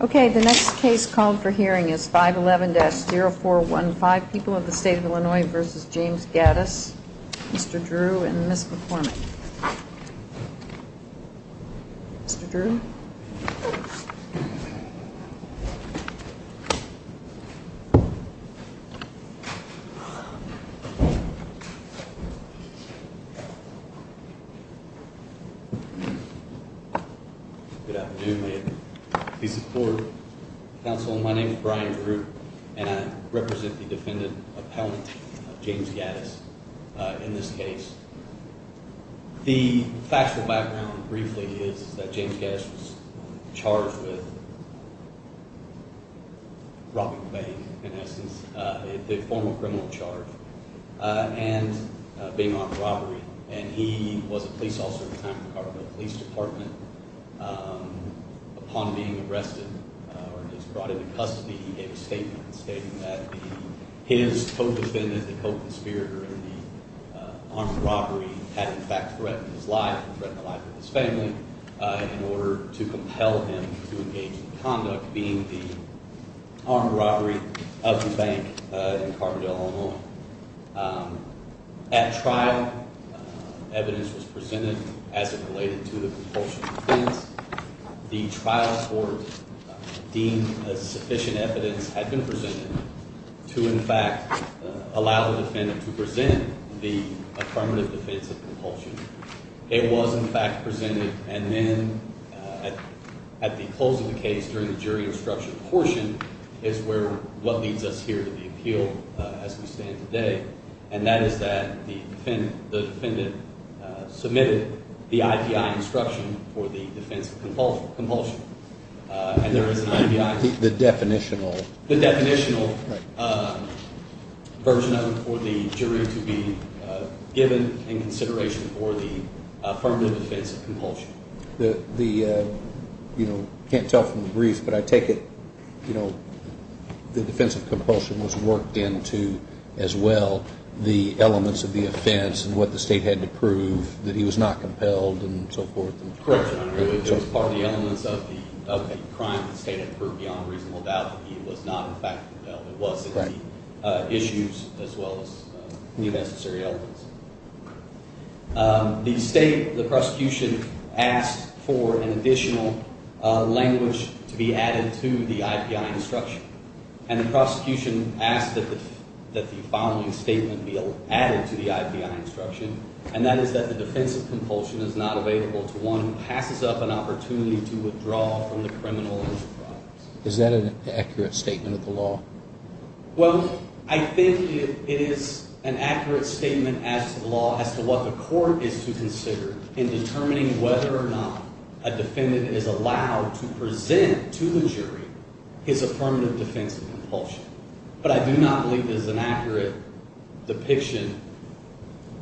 Okay, the next case called for hearing is 511-0415, People of the State of Illinois v. James Gaddis. Mr. Drew and Ms. McCormick. Mr. Drew? Mr. Drew? Good afternoon, ma'am. Please sit forward. Counsel, my name is Brian Drew, and I represent the defendant appellant, James Gaddis, in this case. The factual background, briefly, is that James Gaddis was charged with robbing a bank, in essence, the formal criminal charge, and being on robbery. And he was a police officer at the time in the Colorado Police Department. Upon being arrested or just brought into custody, he gave a statement stating that his co-defendant, the co-conspirator in the armed robbery, had in fact threatened his life and threatened the life of his family in order to compel him to engage in conduct, being the armed robbery of the bank in Carbondale, Illinois. At trial, evidence was presented as it related to the propulsion defense. The trial court deemed sufficient evidence had been presented to, in fact, allow the defendant to present the affirmative defense of propulsion. It was, in fact, presented. And then at the close of the case, during the jury instruction portion, is what leads us here to the appeal as we stand today, and that is that the defendant submitted the I.P.I. instruction for the defense of compulsion. And there is an I.P.I. The definitional. The definitional version of it for the jury to be given in consideration for the affirmative defense of compulsion. The, you know, can't tell from the brief, but I take it, you know, the defense of compulsion was worked into as well the elements of the offense and what the state had to prove that he was not compelled and so forth. Correct, Your Honor. It was part of the elements of the crime the state had proved beyond reasonable doubt that he was not in fact compelled. It was the issues as well as the necessary elements. The state, the prosecution, asked for an additional language to be added to the I.P.I. instruction. And the prosecution asked that the following statement be added to the I.P.I. instruction, and that is that the defense of compulsion is not available to one who passes up an opportunity to withdraw from the criminal enterprise. Is that an accurate statement of the law? Well, I think it is an accurate statement as to the law as to what the court is to consider in determining whether or not a defendant is allowed to present to the jury his affirmative defense of compulsion. But I do not believe this is an accurate depiction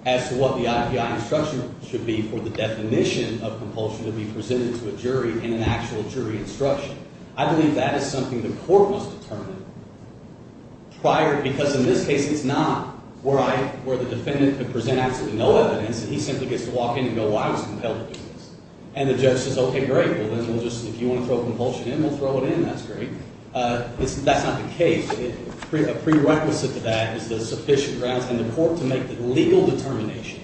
as to what the I.P.I. instruction should be for the definition of compulsion to be presented to a jury in an actual jury instruction. I believe that is something the court must determine prior, because in this case it is not, where the defendant could present absolutely no evidence and he simply gets to walk in and go, well, I was compelled to do this. And the judge says, okay, great. Well, then we'll just, if you want to throw compulsion in, we'll throw it in. That's great. That's not the case. A prerequisite to that is the sufficient grounds in the court to make the legal determination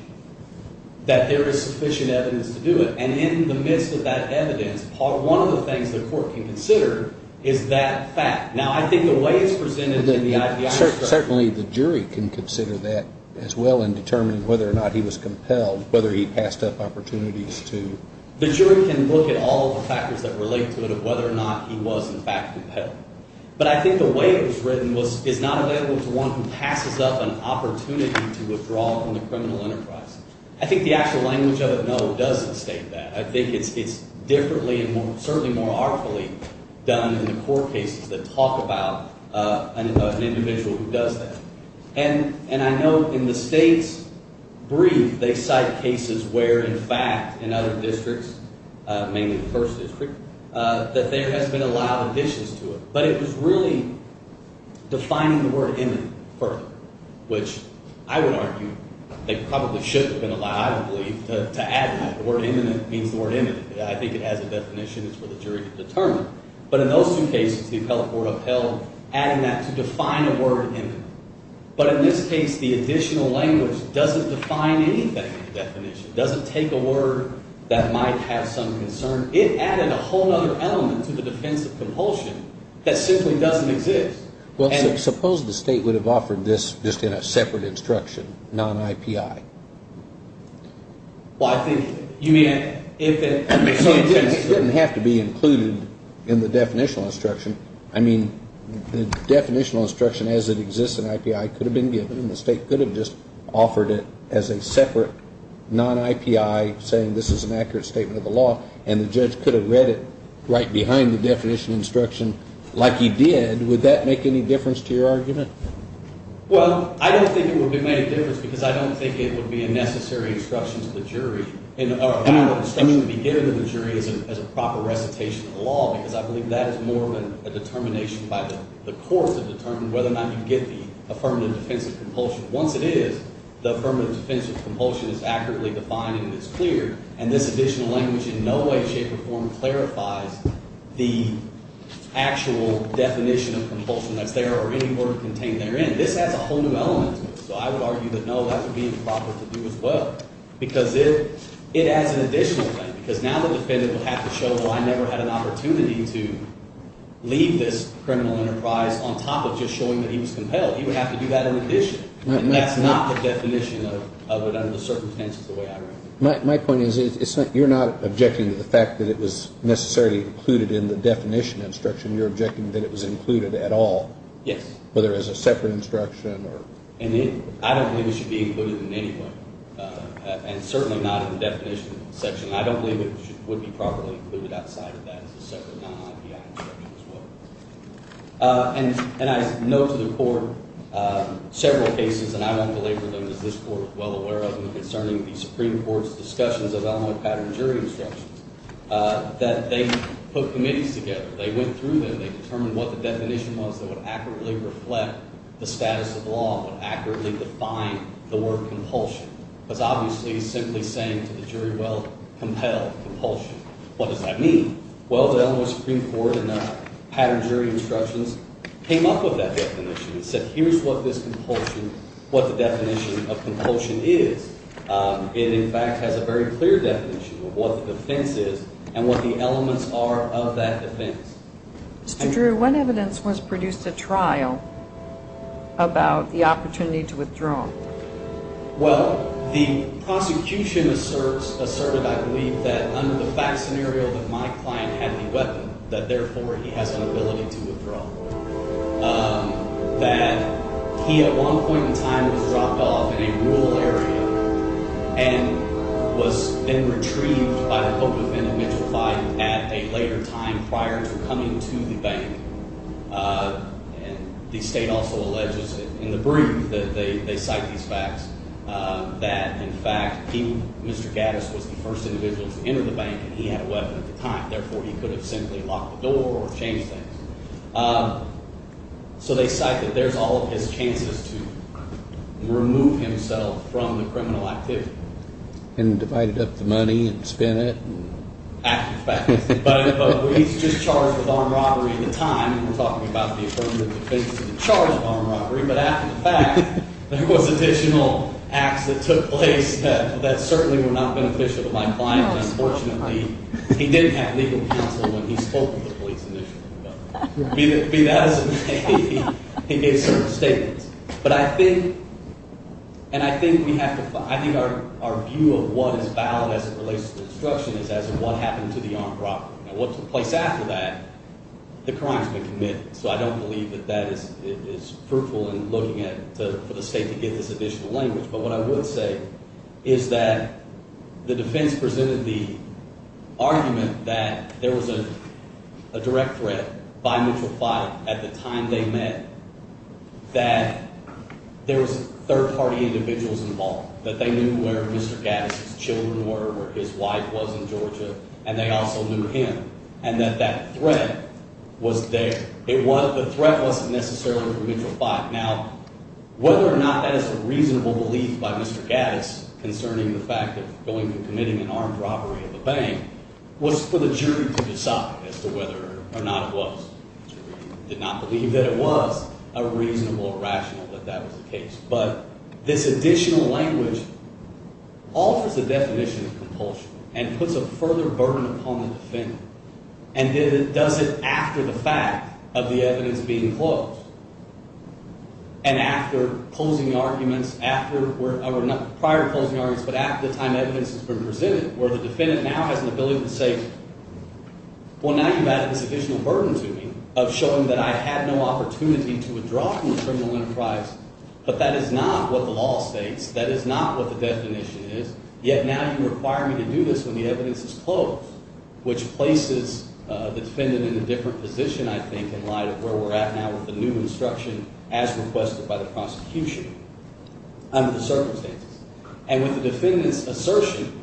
that there is sufficient evidence to do it. And in the midst of that evidence, one of the things the court can consider is that fact. Now, I think the way it's presented in the I.P.I. instruction. Certainly the jury can consider that as well in determining whether or not he was compelled, whether he passed up opportunities to. The jury can look at all the factors that relate to it of whether or not he was in fact compelled. But I think the way it was written is not available to one who passes up an opportunity to withdraw from the criminal enterprise. I think the actual language of it, though, doesn't state that. I think it's differently and certainly more artfully done in the court cases that talk about an individual who does that. And I know in the state's brief, they cite cases where, in fact, in other districts, mainly the first district, that there has been allowed additions to it. But it was really defining the word imminent further, which I would argue they probably should have been allowed, I believe, to add that. The word imminent means the word imminent. I think it has a definition. It's for the jury to determine. But in those two cases, the appellate court upheld adding that to define a word imminent. But in this case, the additional language doesn't define anything in the definition. It doesn't take a word that might have some concern. It added a whole other element to the defense of compulsion that simply doesn't exist. Well, suppose the state would have offered this just in a separate instruction, non-IPI. Well, I think you mean if it didn't exist. It didn't have to be included in the definitional instruction. I mean, the definitional instruction as it exists in IPI could have been given, and the state could have just offered it as a separate non-IPI saying this is an accurate statement of the law, and the judge could have read it right behind the definitional instruction like he did. Would that make any difference to your argument? Well, I don't think it would have made a difference because I don't think it would be a necessary instruction to the jury or a valid instruction to be given to the jury as a proper recitation of the law because I believe that is more of a determination by the court to determine whether or not you get the affirmative defense of compulsion. Once it is, the affirmative defense of compulsion is accurately defined and is clear, and this additional language in no way, shape, or form clarifies the actual definition of compulsion that's there or any word contained therein. This adds a whole new element to it, so I would argue that no, that would be improper to do as well because it adds an additional thing because now the defendant would have to show, well, I never had an opportunity to leave this criminal enterprise on top of just showing that he was compelled. He would have to do that in addition, and that's not the definition of it under the circumstances the way I read it. My point is you're not objecting to the fact that it was necessarily included in the definition instruction. You're objecting that it was included at all. Yes. Whether as a separate instruction or… I don't believe it should be included in any way, and certainly not in the definition section. I don't believe it would be properly included outside of that as a separate non-IPI instruction as well. And I know to the court several cases, and I don't belabor them as this court is well aware of them, concerning the Supreme Court's discussions of Illinois pattern jury instructions, that they put committees together. They went through them. They determined what the definition was that would accurately reflect the status of law and would accurately define the word compulsion. It was obviously simply saying to the jury, well, compel, compulsion. What does that mean? Well, the Illinois Supreme Court in the pattern jury instructions came up with that definition. It said here's what this compulsion, what the definition of compulsion is. It, in fact, has a very clear definition of what the defense is and what the elements are of that defense. Mr. Drew, when evidence was produced at trial about the opportunity to withdraw? Well, the prosecution asserted, I believe, that under the fact scenario that my client had the weapon, that therefore he has an ability to withdraw. That he, at one point in time, was dropped off in a rural area and was then retrieved by the hope of an individual fight at a later time prior to coming to the bank. And the state also alleges in the brief that they cite these facts, that, in fact, he, Mr. Gaddis, was the first individual to enter the bank, and he had a weapon at the time. Therefore, he could have simply locked the door or changed things. So they cite that there's all of his chances to remove himself from the criminal activity. And divided up the money and spent it. After the fact. But he's just charged with armed robbery at the time. We're talking about the affirmative defense of the charge of armed robbery. But after the fact, there was additional acts that took place that certainly were not beneficial to my client. Unfortunately, he didn't have legal counsel when he spoke to the police initially. That is to say, he gave certain statements. But I think, and I think we have to find, I think our view of what is valid as it relates to the destruction is as to what happened to the armed robbery. Now, what's the place after that? The crime's been committed. So I don't believe that that is fruitful in looking at, for the state to get this additional language. But what I would say is that the defense presented the argument that there was a direct threat by mutual fight at the time they met. That there was third party individuals involved. That they knew where Mr. Gaddis' children were, where his wife was in Georgia. And they also knew him. And that that threat was there. The threat wasn't necessarily from mutual fight. Now, whether or not that is a reasonable belief by Mr. Gaddis concerning the fact of going and committing an armed robbery at the bank was for the jury to decide as to whether or not it was. The jury did not believe that it was a reasonable or rational that that was the case. But this additional language alters the definition of compulsion and puts a further burden upon the defendant. And does it after the fact of the evidence being closed. And after closing arguments, prior closing arguments, but after the time evidence has been presented. Where the defendant now has an ability to say, well now you've added this additional burden to me of showing that I had no opportunity to withdraw from the criminal enterprise. But that is not what the law states. That is not what the definition is. Yet now you require me to do this when the evidence is closed. Which places the defendant in a different position, I think, in light of where we're at now with the new instruction as requested by the prosecution. Under the circumstances. And with the defendant's assertion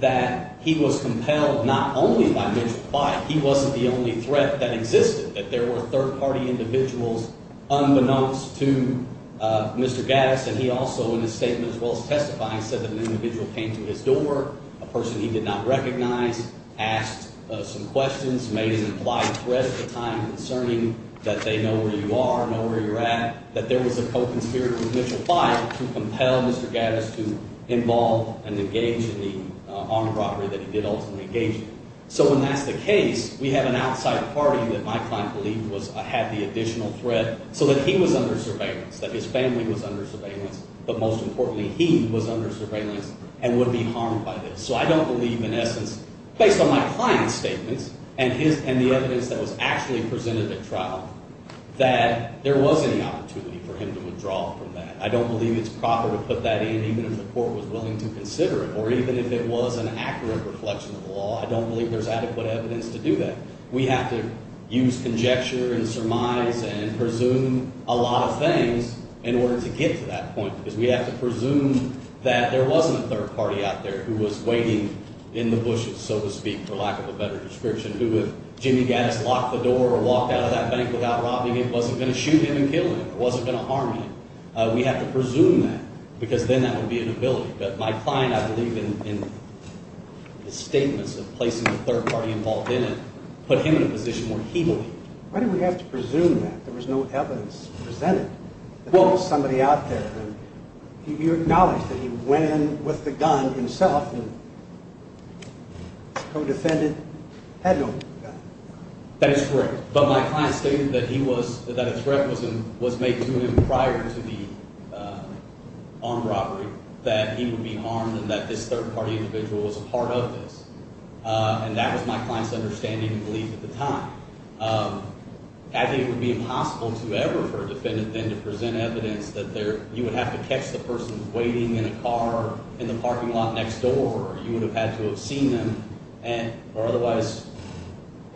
that he was compelled not only by mutual fight. He wasn't the only threat that existed. That there were third party individuals unbeknownst to Mr. Gaddis. And he also in his statement as well as testifying said that an individual came to his door. A person he did not recognize. Asked some questions. Made an implied threat at the time concerning that they know where you are, know where you're at. That there was a co-conspirator with mutual fight to compel Mr. Gaddis to involve and engage in the armed robbery that he did ultimately engage in. So when that's the case, we have an outside party that my client believed had the additional threat. So that he was under surveillance. That his family was under surveillance. But most importantly, he was under surveillance and would be harmed by this. So I don't believe in essence, based on my client's statements and the evidence that was actually presented at trial. That there was any opportunity for him to withdraw from that. I don't believe it's proper to put that in even if the court was willing to consider it. Or even if it was an accurate reflection of the law. I don't believe there's adequate evidence to do that. We have to use conjecture and surmise and presume a lot of things in order to get to that point. Because we have to presume that there wasn't a third party out there who was waiting in the bushes, so to speak. For lack of a better description. Who if Jimmy Gaddis locked the door or walked out of that bank without robbing him. Wasn't going to shoot him and kill him. Wasn't going to harm him. We have to presume that. Because then that would be an ability. But my client, I believe in his statements of placing a third party involved in it. Put him in a position where he believed. Why do we have to presume that? There was no evidence presented. That there was somebody out there. You acknowledge that he went in with the gun himself and co-defended. Had no gun. That is correct. But my client stated that he was, that a threat was made to him prior to the armed robbery. That he would be harmed and that this third party individual was a part of this. And that was my client's understanding and belief at the time. I think it would be impossible to ever for a defendant then to present evidence. That you would have to catch the person waiting in a car in the parking lot next door. Or you would have had to have seen them. Or otherwise,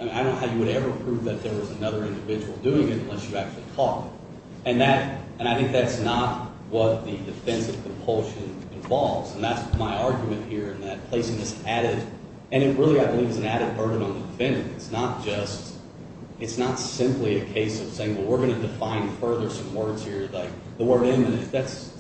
I don't know how you would ever prove that there was another individual doing it. Unless you actually caught it. And that, and I think that's not what the defense of compulsion involves. And that's my argument here in that placing this added. And it really, I believe, is an added burden on the defendant. It's not just, it's not simply a case of saying well we're going to define further some words here. Like the word imminent. That's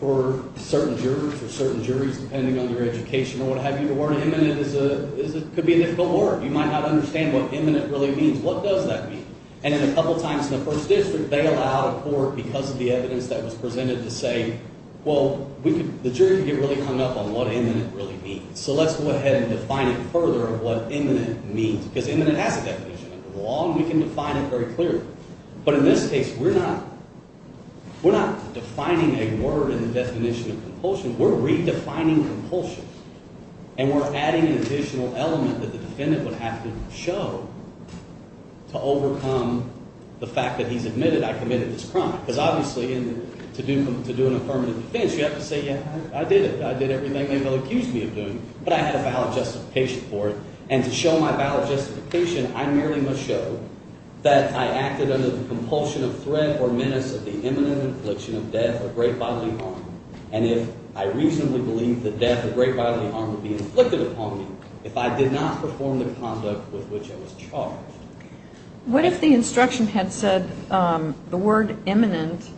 for certain jurors or certain juries depending on your education or what have you. The word imminent is a, could be a difficult word. You might not understand what imminent really means. What does that mean? And then a couple times in the first district they allowed a court because of the evidence that was presented to say, well we could, the jury could get really hung up on what imminent really means. So let's go ahead and define it further of what imminent means. Because imminent has a definition under the law and we can define it very clearly. But in this case we're not, we're not defining a word in the definition of compulsion. We're redefining compulsion. And we're adding an additional element that the defendant would have to show to overcome the fact that he's admitted I committed this crime. Because obviously to do an affirmative defense you have to say yeah, I did it. I did everything they will accuse me of doing. But I had a valid justification for it. And to show my valid justification I merely must show that I acted under the compulsion of threat or menace of the imminent infliction of death or great bodily harm. And if I reasonably believe the death or great bodily harm would be inflicted upon me if I did not perform the conduct with which I was charged. What if the instruction had said the word imminent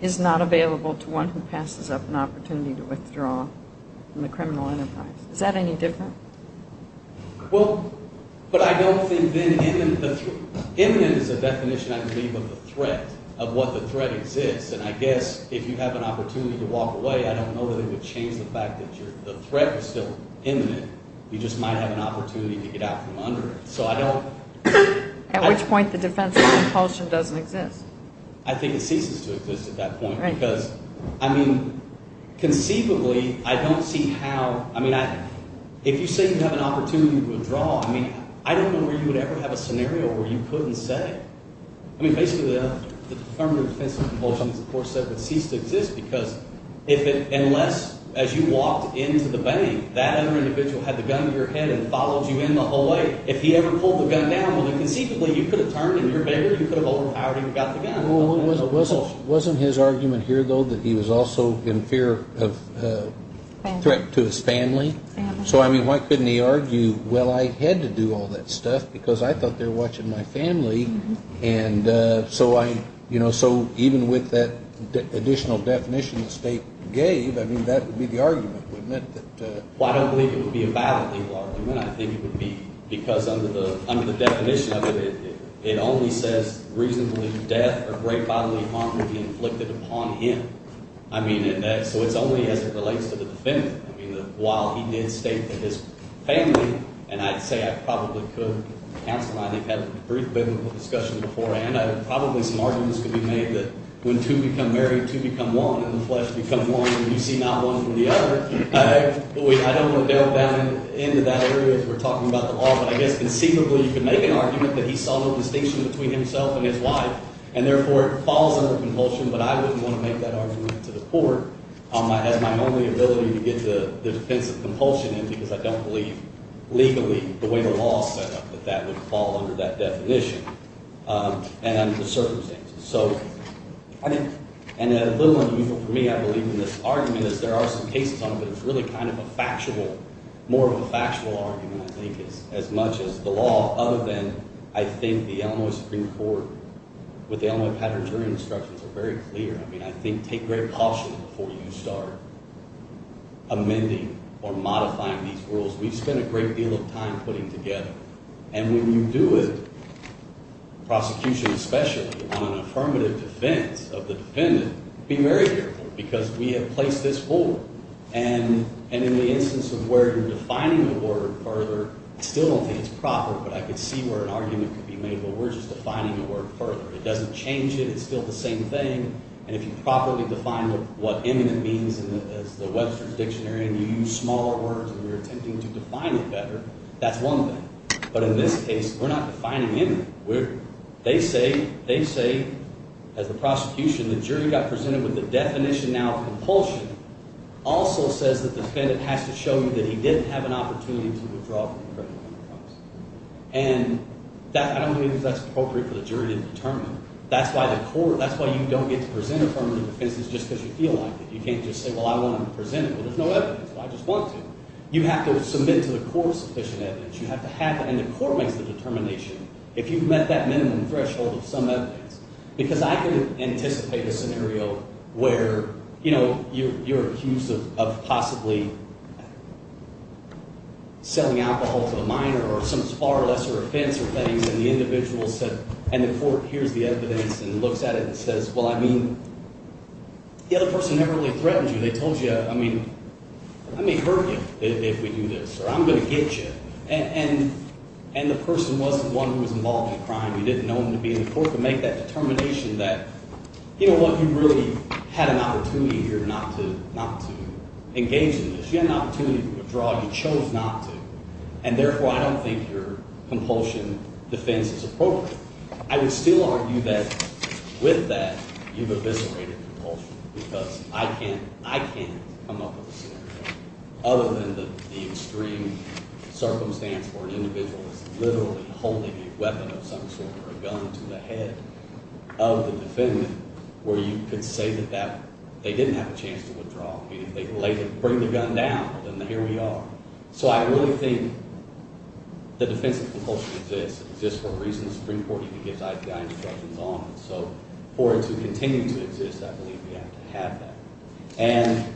is not available to one who passes up an opportunity to withdraw from the criminal enterprise? Is that any different? Well, but I don't think then imminent, imminent is a definition I believe of a threat, of what the threat exists. And I guess if you have an opportunity to walk away, I don't know that it would change the fact that the threat was still imminent. You just might have an opportunity to get out from under it. So I don't. At which point the defense of compulsion doesn't exist. I think it ceases to exist at that point. Right. Because I mean conceivably I don't see how. I mean if you say you have an opportunity to withdraw, I mean I don't know where you would ever have a scenario where you couldn't say. I mean basically the affirmative defense of compulsion of course would cease to exist because unless as you walked into the bank, that other individual had the gun to your head and followed you in the whole way. If he ever pulled the gun down, well then conceivably you could have turned and you're bigger. You could have overpowered him and got the gun. Well, wasn't his argument here though that he was also in fear of threat to his family? Family. So I mean why couldn't he argue, well, I had to do all that stuff because I thought they were watching my family. And so I, you know, so even with that additional definition the state gave, I mean that would be the argument, wouldn't it? Well, I don't believe it would be a bodily law argument. I think it would be because under the definition of it, it only says reasonably death or great bodily harm would be inflicted upon him. I mean so it's only as it relates to the defendant. I mean while he did state that his family, and I'd say I probably could counsel, I think had a brief biblical discussion beforehand. I think probably some arguments could be made that when two become married, two become one and the flesh become one and you see not one from the other. I don't want to delve down into that area if we're talking about the law, but I guess conceivably you could make an argument that he saw no distinction between himself and his wife. And therefore it falls under compulsion, but I wouldn't want to make that argument to the court as my only ability to get the defense of compulsion in because I don't believe legally the way the law is set up that that would fall under that definition and under the circumstances. So I think, and a little unusual for me I believe in this argument is there are some cases on it, but it's really kind of a factual, more of a factual argument I think as much as the law. Other than I think the Illinois Supreme Court with the Illinois Paternity Instructions are very clear. I mean I think take great caution before you start amending or modifying these rules. We've spent a great deal of time putting together and when you do it, prosecution especially on an affirmative defense of the defendant, be very careful because we have placed this forward. And in the instance of where you're defining the word further, I still don't think it's proper, but I could see where an argument could be made where we're just defining the word further. It doesn't change it. It's still the same thing. And if you properly define what eminent means as the Webster's Dictionary and you use smaller words and you're attempting to define it better, that's one thing. But in this case, we're not defining eminent. They say, as the prosecution, the jury got presented with the definition now of compulsion also says that the defendant has to show you that he didn't have an opportunity to withdraw from the criminal defense. And I don't think that's appropriate for the jury to determine. That's why the court – that's why you don't get to present affirmative defense is just because you feel like it. You can't just say, well, I want to present it. Well, there's no evidence. Well, I just want to. You have to submit to the court sufficient evidence. You have to have – and the court makes the determination if you've met that minimum threshold of some evidence. Because I can anticipate a scenario where you're accused of possibly selling alcohol to a minor or some far lesser offense or things, and the individual said – and the court hears the evidence and looks at it and says, well, I mean, the other person never really threatened you. They told you, I mean, I may hurt you if we do this or I'm going to get you. And the person wasn't one who was involved in the crime. You didn't know him to be in the court to make that determination that, you know what, you really had an opportunity here not to engage in this. You had an opportunity to withdraw. You chose not to. And therefore, I don't think your compulsion defense is appropriate. I would still argue that with that, you've eviscerated compulsion because I can't come up with a scenario other than the extreme circumstance where an individual is literally holding a weapon of some sort or a gun to the head of the defendant where you could say that they didn't have a chance to withdraw. I mean, if they bring the gun down, then here we are. So I really think the defense of compulsion exists. It exists for a reason. It's pretty important. It gives IPI instructions on it. So for it to continue to exist, I believe we have to have that. And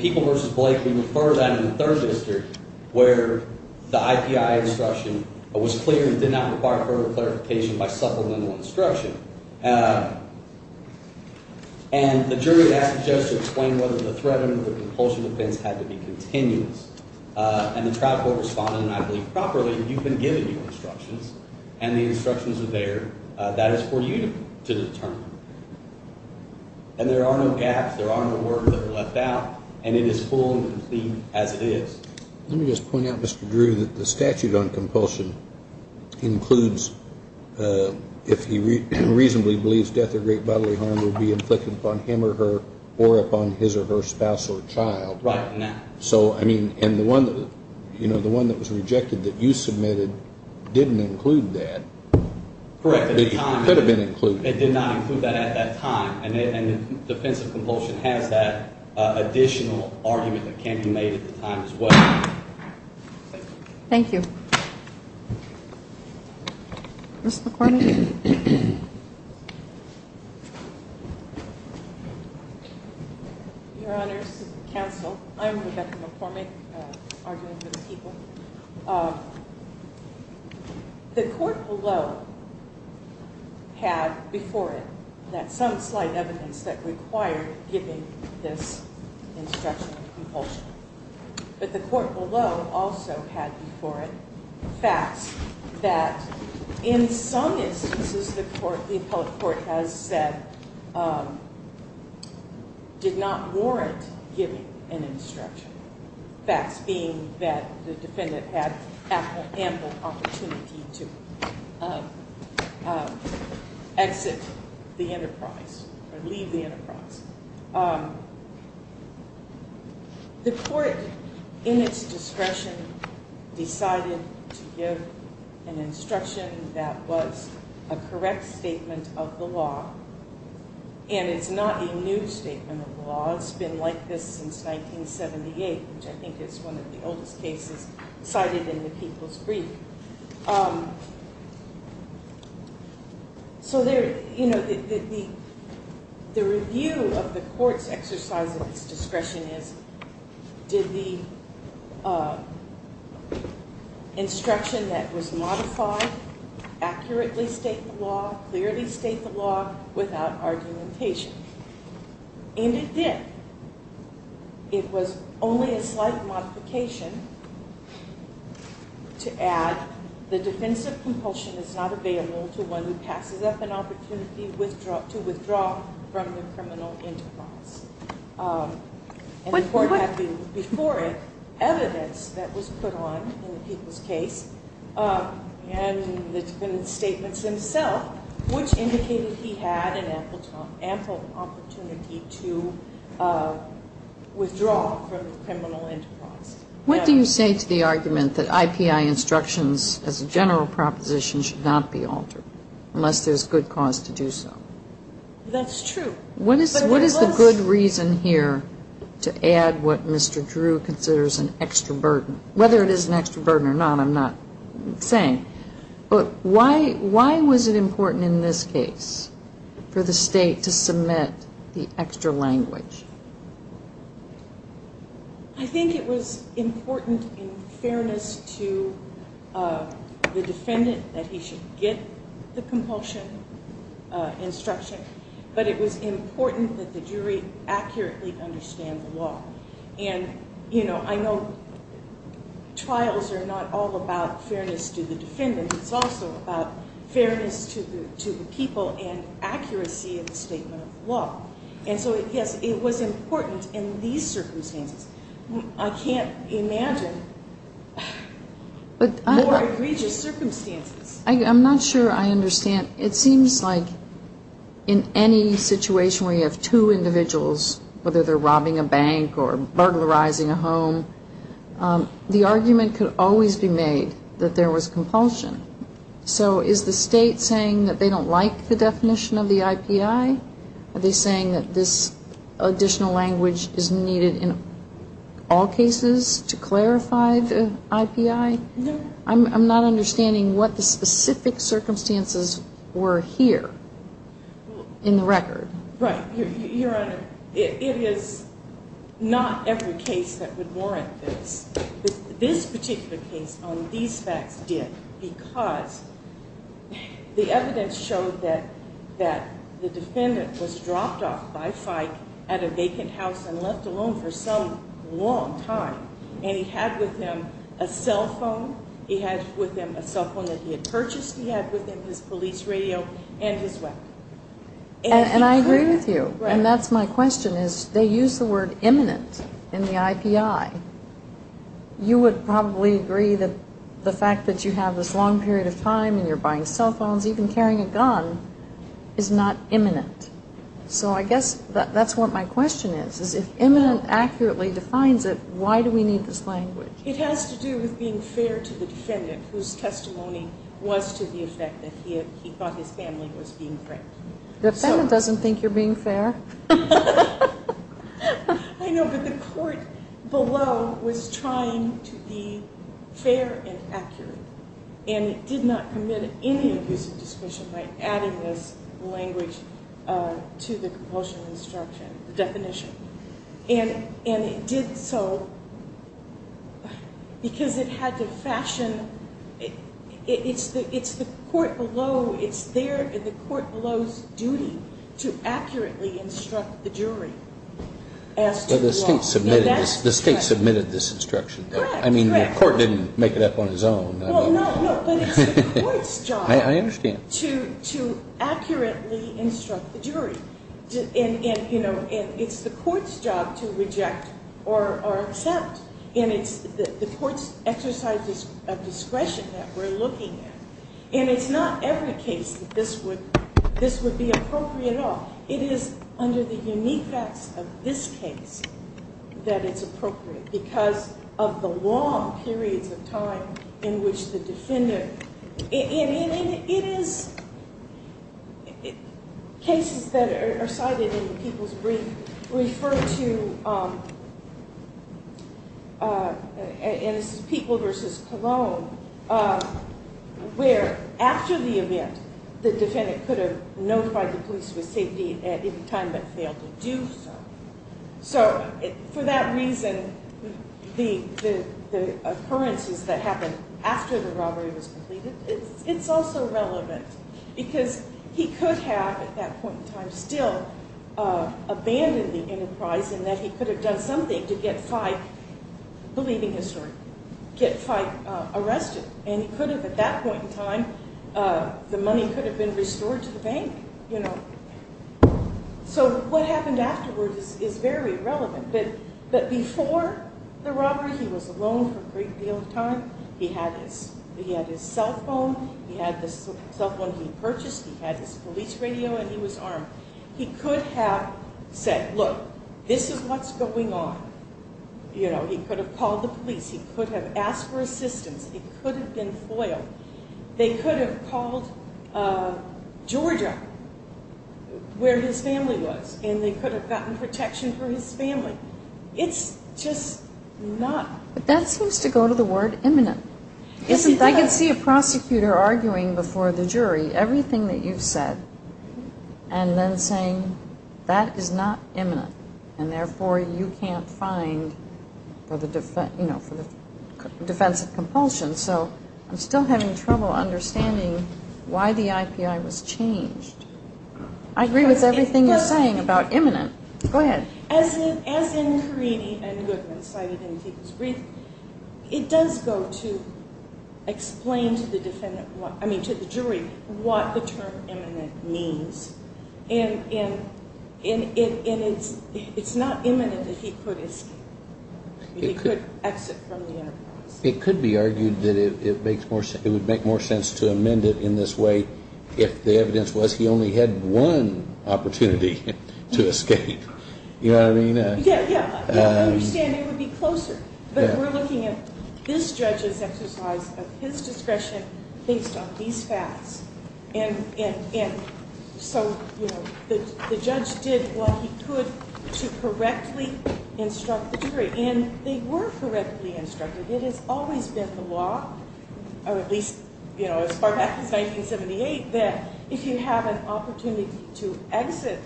People v. Blake, we refer to that in the third district where the IPI instruction was clear and did not require further clarification by supplemental instruction. And the jury asked the judge to explain whether the threat under the compulsion defense had to be continuous. And the trial court responded, and I believe properly, you've been given your instructions, and the instructions are there. That is for you to determine. And there are no gaps. There are no words that are left out. And it is full and complete as it is. Let me just point out, Mr. Drew, that the statute on compulsion includes if he reasonably believes death or great bodily harm will be inflicted upon him or her or upon his or her spouse or child. Right. So, I mean, and the one that was rejected that you submitted didn't include that. Correct. It could have been included. It did not include that at that time. And the defense of compulsion has that additional argument that can be made at the time as well. Thank you. Ms. McCormick. Your Honors, counsel, I'm Rebecca McCormick, arguing for the people. The court below had before it that some slight evidence that required giving this instruction of compulsion. But the court below also had before it facts that in some instances the court, the appellate court has said, did not warrant giving an instruction. Facts being that the defendant had ample opportunity to exit the enterprise or leave the enterprise. The court, in its discretion, decided to give an instruction that was a correct statement of the law. And it's not a new statement of the law. It's been like this since 1978, which I think is one of the oldest cases cited in the people's brief. So the review of the court's exercise of its discretion is, did the instruction that was modified accurately state the law, clearly state the law, without argumentation? And it did. It was only a slight modification to add the defense of compulsion is not available to one who passes up an opportunity to withdraw from the criminal enterprise. And the court had before it evidence that was put on in the people's case and the defendant's statements themselves, which indicated he had an ample opportunity to withdraw from the criminal enterprise. What do you say to the argument that IPI instructions as a general proposition should not be altered unless there's good cause to do so? That's true. What is the good reason here to add what Mr. Drew considers an extra burden? Whether it is an extra burden or not, I'm not saying. But why was it important in this case for the state to submit the extra language? I think it was important in fairness to the defendant that he should get the compulsion instruction. But it was important that the jury accurately understand the law. And I know trials are not all about fairness to the defendant. It's also about fairness to the people and accuracy in the statement of the law. And so, yes, it was important in these circumstances. I can't imagine more egregious circumstances. I'm not sure I understand. It seems like in any situation where you have two individuals, whether they're robbing a bank or burglarizing a home, the argument could always be made that there was compulsion. So is the state saying that they don't like the definition of the IPI? Are they saying that this additional language is needed in all cases to clarify the IPI? No. I'm not understanding what the specific circumstances were here in the record. Right. Your Honor, it is not every case that would warrant this. This particular case on these facts did because the evidence showed that the defendant was dropped off by FIKE at a vacant house and left alone for some long time. And he had with him a cell phone. He had with him a cell phone that he had purchased. He had with him his police radio and his weapon. And I agree with you. And that's my question, is they use the word imminent in the IPI. You would probably agree that the fact that you have this long period of time and you're buying cell phones, even carrying a gun, is not imminent. So I guess that's what my question is, is if imminent accurately defines it, why do we need this language? It has to do with being fair to the defendant whose testimony was to the effect that he thought his family was being framed. The defendant doesn't think you're being fair. I know, but the court below was trying to be fair and accurate. And it did not commit any abuse of discretion by adding this language to the compulsion instruction, the definition. And it did so because it had to fashion. It's the court below. It's there in the court below's duty to accurately instruct the jury as to the law. But the state submitted this instruction. Correct, correct. I mean, the court didn't make it up on its own. Well, no, but it's the court's job. I understand. To accurately instruct the jury. And it's the court's job to reject or accept. And it's the court's exercise of discretion that we're looking at. And it's not every case that this would be appropriate at all. It is under the unique facts of this case that it's appropriate because of the long periods of time in which the defendant. And it is cases that are cited in the people's brief refer to, and this is People versus Colon, where after the event, the defendant could have notified the police with safety at any time but failed to do so. So for that reason, the occurrences that happened after the robbery was completed, it's also relevant. Because he could have, at that point in time, still abandoned the enterprise in that he could have done something to get Fyke, believe in history, get Fyke arrested. And he could have, at that point in time, the money could have been restored to the bank. So what happened afterwards is very relevant. But before the robbery, he was alone for a great deal of time. He had his cell phone, he had the cell phone he purchased, he had his police radio, and he was armed. He could have said, look, this is what's going on. He could have called the police, he could have asked for assistance, it could have been FOIL. They could have called Georgia, where his family was, and they could have gotten protection for his family. It's just not. But that seems to go to the word imminent. It does. I can see a prosecutor arguing before the jury everything that you've said, and then saying that is not imminent, and therefore you can't find for the defense of compulsion. So I'm still having trouble understanding why the IPI was changed. I agree with everything you're saying about imminent. Go ahead. As in Carini and Goodman cited in Fyke's brief, it does go to explain to the jury what the term imminent means. And it's not imminent if he could escape, if he could exit from the enterprise. It could be argued that it would make more sense to amend it in this way if the evidence was he only had one opportunity to escape. You know what I mean? Yeah, yeah. I understand it would be closer. But we're looking at this judge's exercise of his discretion based on these facts. And so the judge did what he could to correctly instruct the jury. And they were correctly instructed. It has always been the law, or at least as far back as 1978, that if you have an opportunity to exit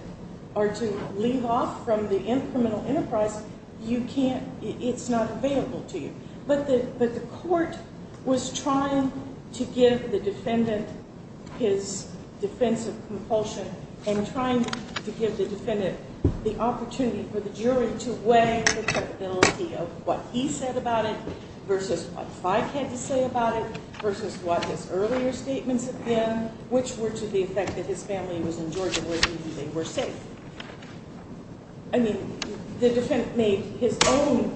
or to leave off from the incremental enterprise, you can't. It's not available to you. But the court was trying to give the defendant his defense of compulsion and trying to give the defendant the opportunity for the jury to weigh the capability of what he said about it versus what Fyke had to say about it versus what his earlier statements had been, which were to the effect that his family was in Georgia where he knew they were safe. I mean, the defendant made his own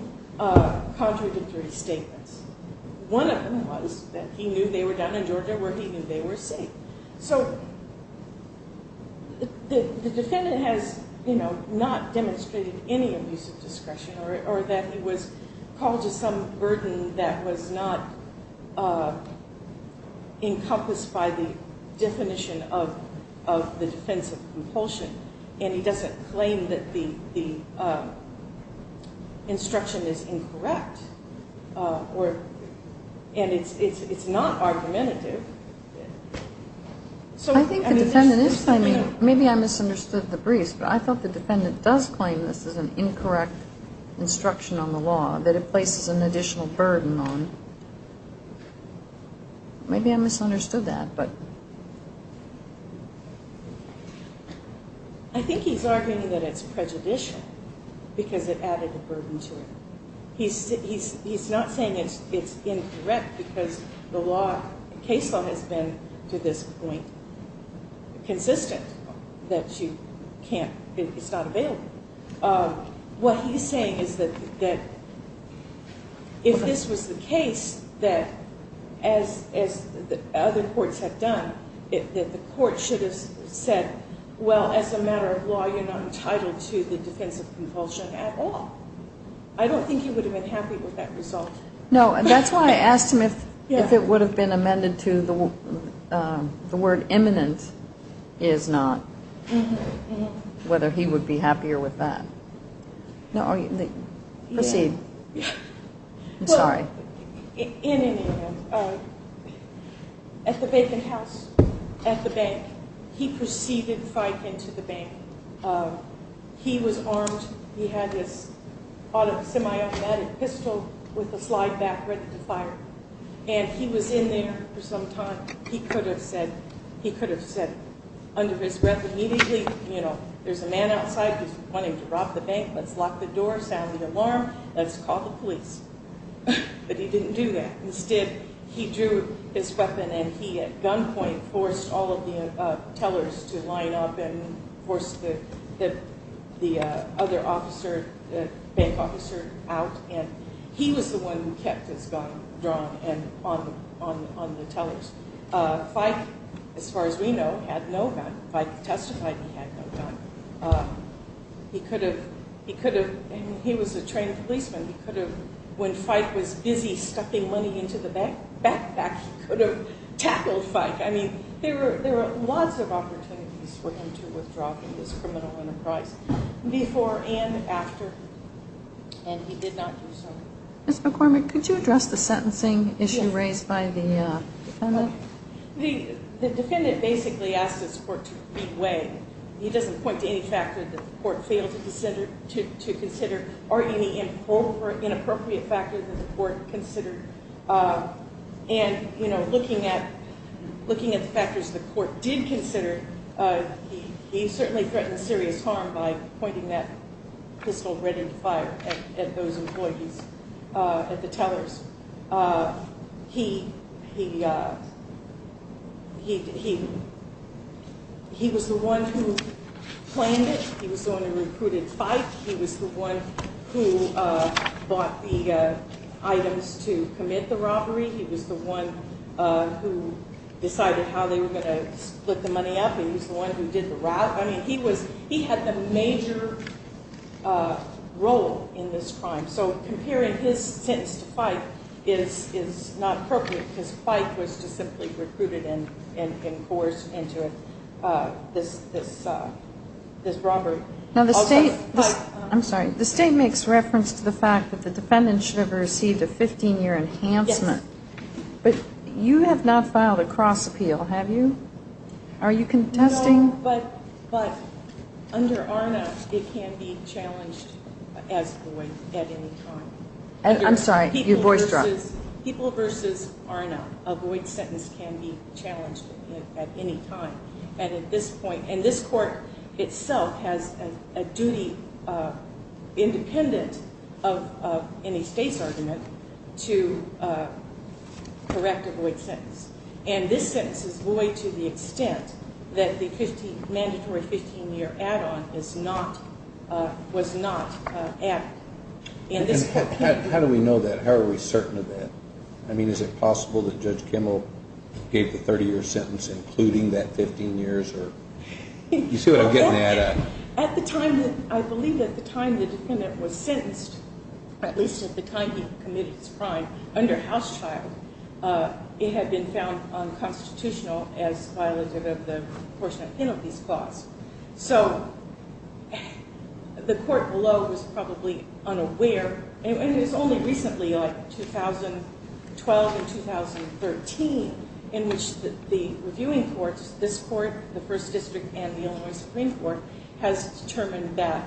contradictory statements. One of them was that he knew they were down in Georgia where he knew they were safe. So the defendant has not demonstrated any abuse of discretion or that he was called to some burden that was not encompassed by the definition of the defense of compulsion. And he doesn't claim that the instruction is incorrect. And it's not argumentative. I think the defendant is claiming, maybe I misunderstood the briefs, but I thought the defendant does claim this is an incorrect instruction on the law, that it places an additional burden on. Maybe I misunderstood that. I think he's arguing that it's prejudicial because it added a burden to it. He's not saying it's incorrect because the case law has been, to this point, consistent that it's not available. What he's saying is that if this was the case that, as other courts have done, that the court should have said, well, as a matter of law, you're not entitled to the defense of compulsion at all. I don't think he would have been happy with that result. No, that's why I asked him if it would have been amended to the word imminent is not, whether he would be happier with that. I'm sorry. In any event, at the vacant house at the bank, he proceeded to fight into the bank. He was armed. He had this semi-automatic pistol with a slide back ready to fire, and he was in there for some time. He could have said under his breath immediately, you know, there's a man outside who's wanting to rob the bank. Let's lock the door. Sound the alarm. Let's call the police, but he didn't do that. Instead, he drew his weapon, and he, at gunpoint, forced all of the tellers to line up and force the other officer, the bank officer, out, and he was the one who kept his gun drawn on the tellers. Fyke, as far as we know, had no gun. Fyke testified he had no gun. He could have, and he was a trained policeman. He could have, when Fyke was busy stuffing money into the backpack, he could have tackled Fyke. I mean, there were lots of opportunities for him to withdraw from this criminal enterprise before and after, and he did not do so. Ms. McCormick, could you address the sentencing issue raised by the defendant? The defendant basically asked his court to be way. He doesn't point to any factor that the court failed to consider or any inappropriate factors that the court considered, and, you know, looking at the factors the court did consider, he certainly threatened serious harm by pointing that pistol red in the fire at those employees, at the tellers. He was the one who claimed it. He was the one who recruited Fyke. He was the one who bought the items to commit the robbery. He was the one who decided how they were going to split the money up, and he was the one who did the route. I mean, he had the major role in this crime. So comparing his sentence to Fyke is not appropriate because Fyke was just simply recruited and forced into this robbery. Now, the state makes reference to the fact that the defendant should have received a 15-year enhancement. Yes. But you have not filed a cross appeal, have you? Are you contesting? But under ARNA, it can be challenged as void at any time. I'm sorry. Your voice dropped. People versus ARNA, a void sentence can be challenged at any time. And at this point, and this court itself has a duty independent of any state's argument to correct a void sentence. And this sentence is void to the extent that the mandatory 15-year add-on was not added. How do we know that? How are we certain of that? I mean, is it possible that Judge Kimmel gave the 30-year sentence including that 15 years? You see what I'm getting at? I believe at the time the defendant was sentenced, at least at the time he committed his crime, under House Child, it had been found unconstitutional as violated of the portion of penalties clause. So the court below was probably unaware. And it was only recently, like 2012 and 2013, in which the reviewing courts, this court, the First District, and the Illinois Supreme Court has determined that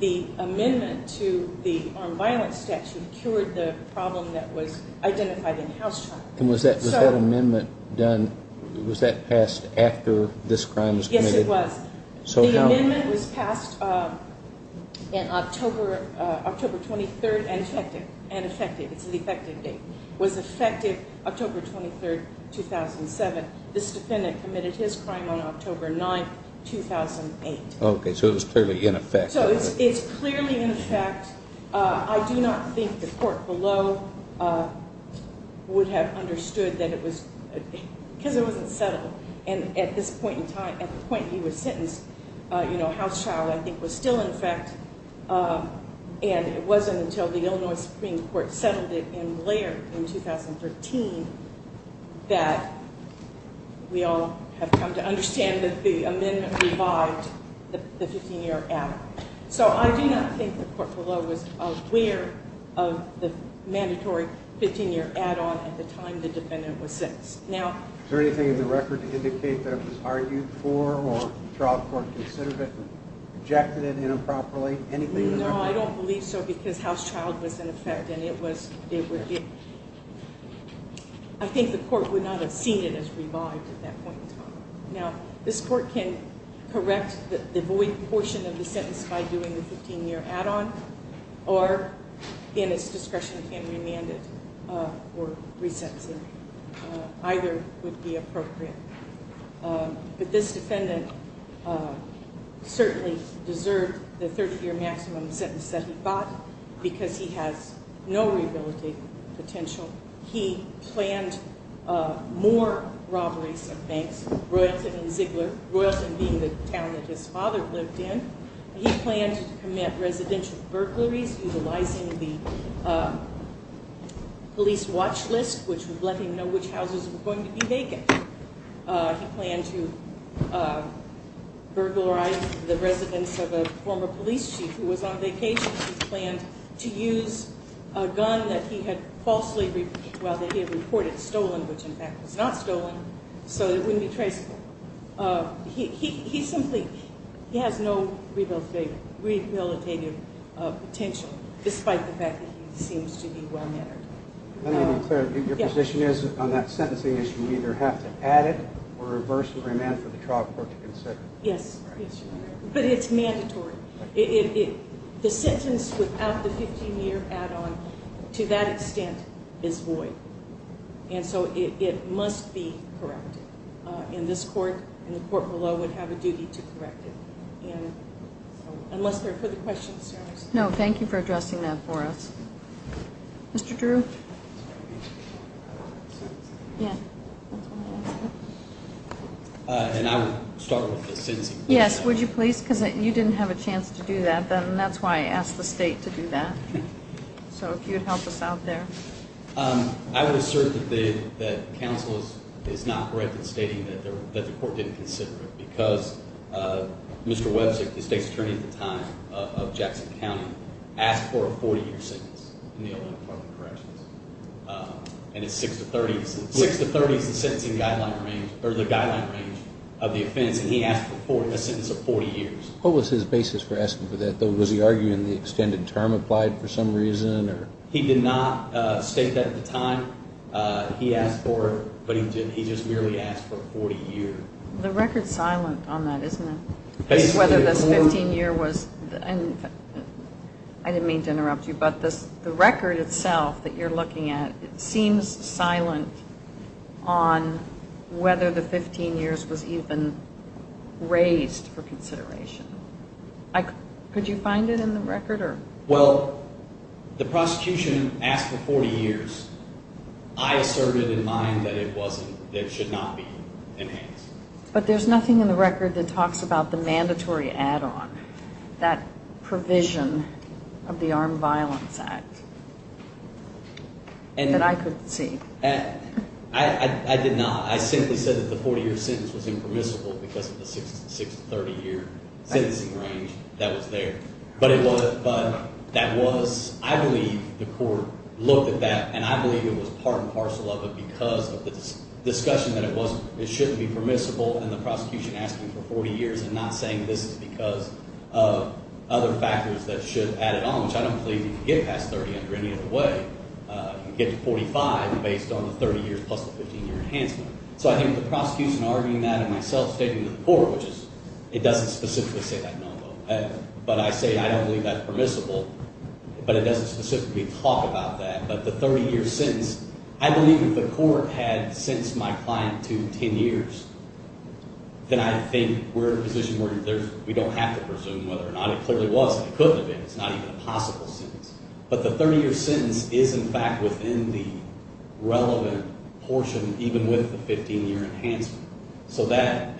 the amendment to the armed violence statute cured the problem that was identified in House Child. And was that amendment done, was that passed after this crime was committed? Yes, it was. The amendment was passed in October 23rd and effective. It's an effective date. It was effective October 23rd, 2007. This defendant committed his crime on October 9th, 2008. Okay, so it was clearly in effect. So it's clearly in effect. I do not think the court below would have understood that it was, because it wasn't settled. And at this point in time, at the point he was sentenced, you know, House Child, I think, was still in effect. And it wasn't until the Illinois Supreme Court settled it in Blair in 2013 that we all have come to understand that the amendment revived the 15-year add-on. So I do not think the court below was aware of the mandatory 15-year add-on at the time the defendant was sentenced. Is there anything in the record to indicate that it was argued for or trial court considered it, rejected it inappropriately, anything in the record? No, I don't believe so because House Child was in effect and it was, it would be, I think the court would not have seen it as revived at that point in time. Now, this court can correct the void portion of the sentence by doing the 15-year add-on or, in its discretion, can remand it for resentencing. Either would be appropriate. But this defendant certainly deserved the 30-year maximum sentence that he got because he has no rehabilitative potential. He planned more robberies of banks, Royalton and Ziegler, Royalton being the town that his father lived in. He planned to commit residential burglaries, utilizing the police watch list, which would let him know which houses were going to be vacant. He planned to burglarize the residence of a former police chief who was on vacation. He planned to use a gun that he had falsely, well, that he had reported stolen, which in fact was not stolen, so it wouldn't be traceable. He simply, he has no rehabilitative potential, despite the fact that he seems to be well mannered. Let me be clear, your position is on that sentencing is you either have to add it or reverse and remand for the trial court to consider. Yes, but it's mandatory. The sentence without the 15-year add-on, to that extent, is void. And so it must be corrected. And this court and the court below would have a duty to correct it. Unless there are further questions. No, thank you for addressing that for us. Mr. Drew? And I would start with the sentencing. Yes, would you please, because you didn't have a chance to do that, and that's why I asked the state to do that. So if you would help us out there. I would assert that counsel is not correct in stating that the court didn't consider it because Mr. Websick, the state's attorney at the time of Jackson County, asked for a 40-year sentence in the Illinois Department of Corrections. And it's six to 30. Six to 30 is the sentencing guideline range, or the guideline range of the offense, and he asked for a sentence of 40 years. What was his basis for asking for that, though? Was he arguing the extended term applied for some reason? He did not state that at the time. He asked for it, but he just merely asked for 40 years. The record's silent on that, isn't it? Whether this 15-year was, and I didn't mean to interrupt you, but the record itself that you're looking at seems silent on whether the 15 years was even raised for consideration. Could you find it in the record? Well, the prosecution asked for 40 years. I asserted in mine that it should not be enhanced. But there's nothing in the record that talks about the mandatory add-on, that provision of the Armed Violence Act that I could see. I did not. I simply said that the 40-year sentence was impermissible because of the six to 30-year sentencing range that was there. But that was, I believe, the court looked at that, and I believe it was part and parcel of it because of the discussion that it shouldn't be permissible, and the prosecution asking for 40 years and not saying this is because of other factors that should add it on, which I don't believe you can get past 30 under any other way. You can get to 45 based on the 30 years plus the 15-year enhancement. So I think the prosecution arguing that and myself stating to the court, which is it doesn't specifically say that, no, but I say I don't believe that's permissible, but it doesn't specifically talk about that. But the 30-year sentence, I believe if the court had sentenced my client to 10 years, then I think we're in a position where we don't have to presume whether or not it clearly was, and it could have been. It's not even a possible sentence. But the 30-year sentence is, in fact, within the relevant portion, even with the 15-year enhancement. So that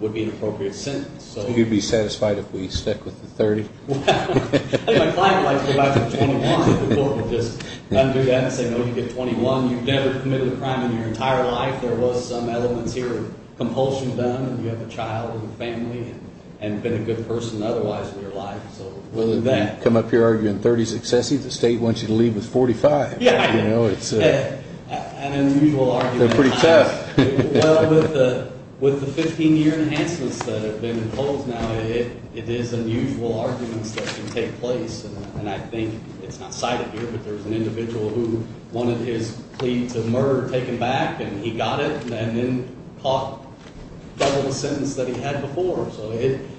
would be an appropriate sentence. So you'd be satisfied if we stuck with the 30? Well, I think my client would like to go back to 21. The court would just undo that and say, no, you get 21. You've never committed a crime in your entire life. There was some elements here of compulsion done, and you have a child and a family and been a good person otherwise in your life. You come up here arguing 30 is excessive? The state wants you to leave with 45. Yeah, I know. It's an unusual argument. They're pretty tough. Well, with the 15-year enhancements that have been imposed now, it is unusual arguments that can take place. And I think it's not cited here, but there's an individual who wanted his plea to murder taken back, and he got it and then caught double the sentence that he had before. So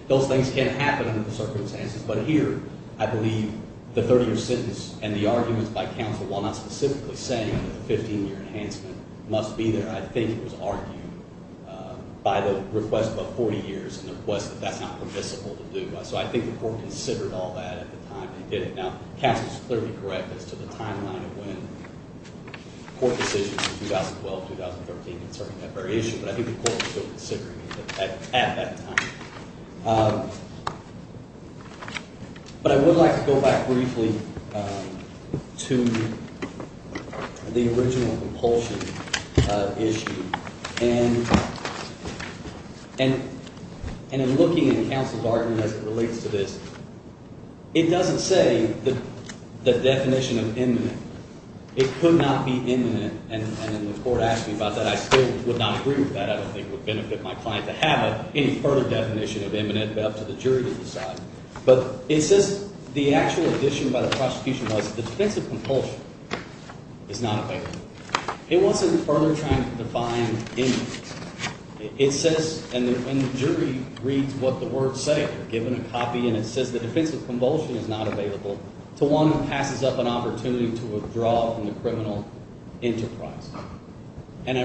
those things can happen under the circumstances. But here, I believe the 30-year sentence and the arguments by counsel, while not specifically saying that a 15-year enhancement must be there, I think it was argued by the request of 40 years and the request that that's not permissible to do. So I think the court considered all that at the time they did it. Now, counsel is clearly correct as to the timeline of when court decisions in 2012-2013 concerning that very issue, but I think the court was still considering it at that time. But I would like to go back briefly to the original compulsion issue. And in looking at counsel's argument as it relates to this, it doesn't say the definition of imminent. It could not be imminent. And the court asked me about that. I still would not agree with that. I don't think it would benefit my client to have any further definition of imminent, but up to the jury to decide. But it says the actual addition by the prosecution was the defensive compulsion is not available. It wasn't further trying to define imminent. It says, and the jury reads what the words say, given a copy, and it says the defensive compulsion is not available to one who passes up an opportunity to withdraw from the criminal enterprise. And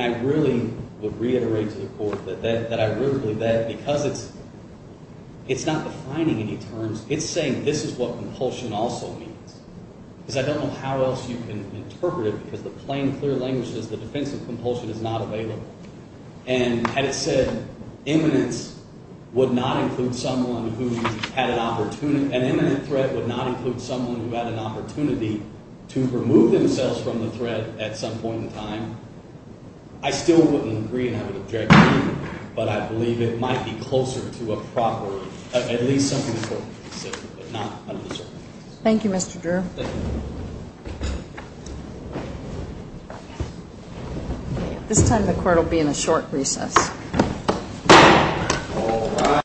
I really would reiterate to the court that I really believe that because it's not defining any terms, it's saying this is what compulsion also means. Because I don't know how else you can interpret it because the plain, clear language says the defensive compulsion is not available. And had it said imminent would not include someone who had an opportunity, an imminent threat would not include someone who had an opportunity to remove themselves from the threat at some point in time, I still wouldn't agree and I would object to it. But I believe it might be closer to a proper, at least something the court could say, but not under the circumstances. Thank you. Thank you. This time the court will be in a short recess.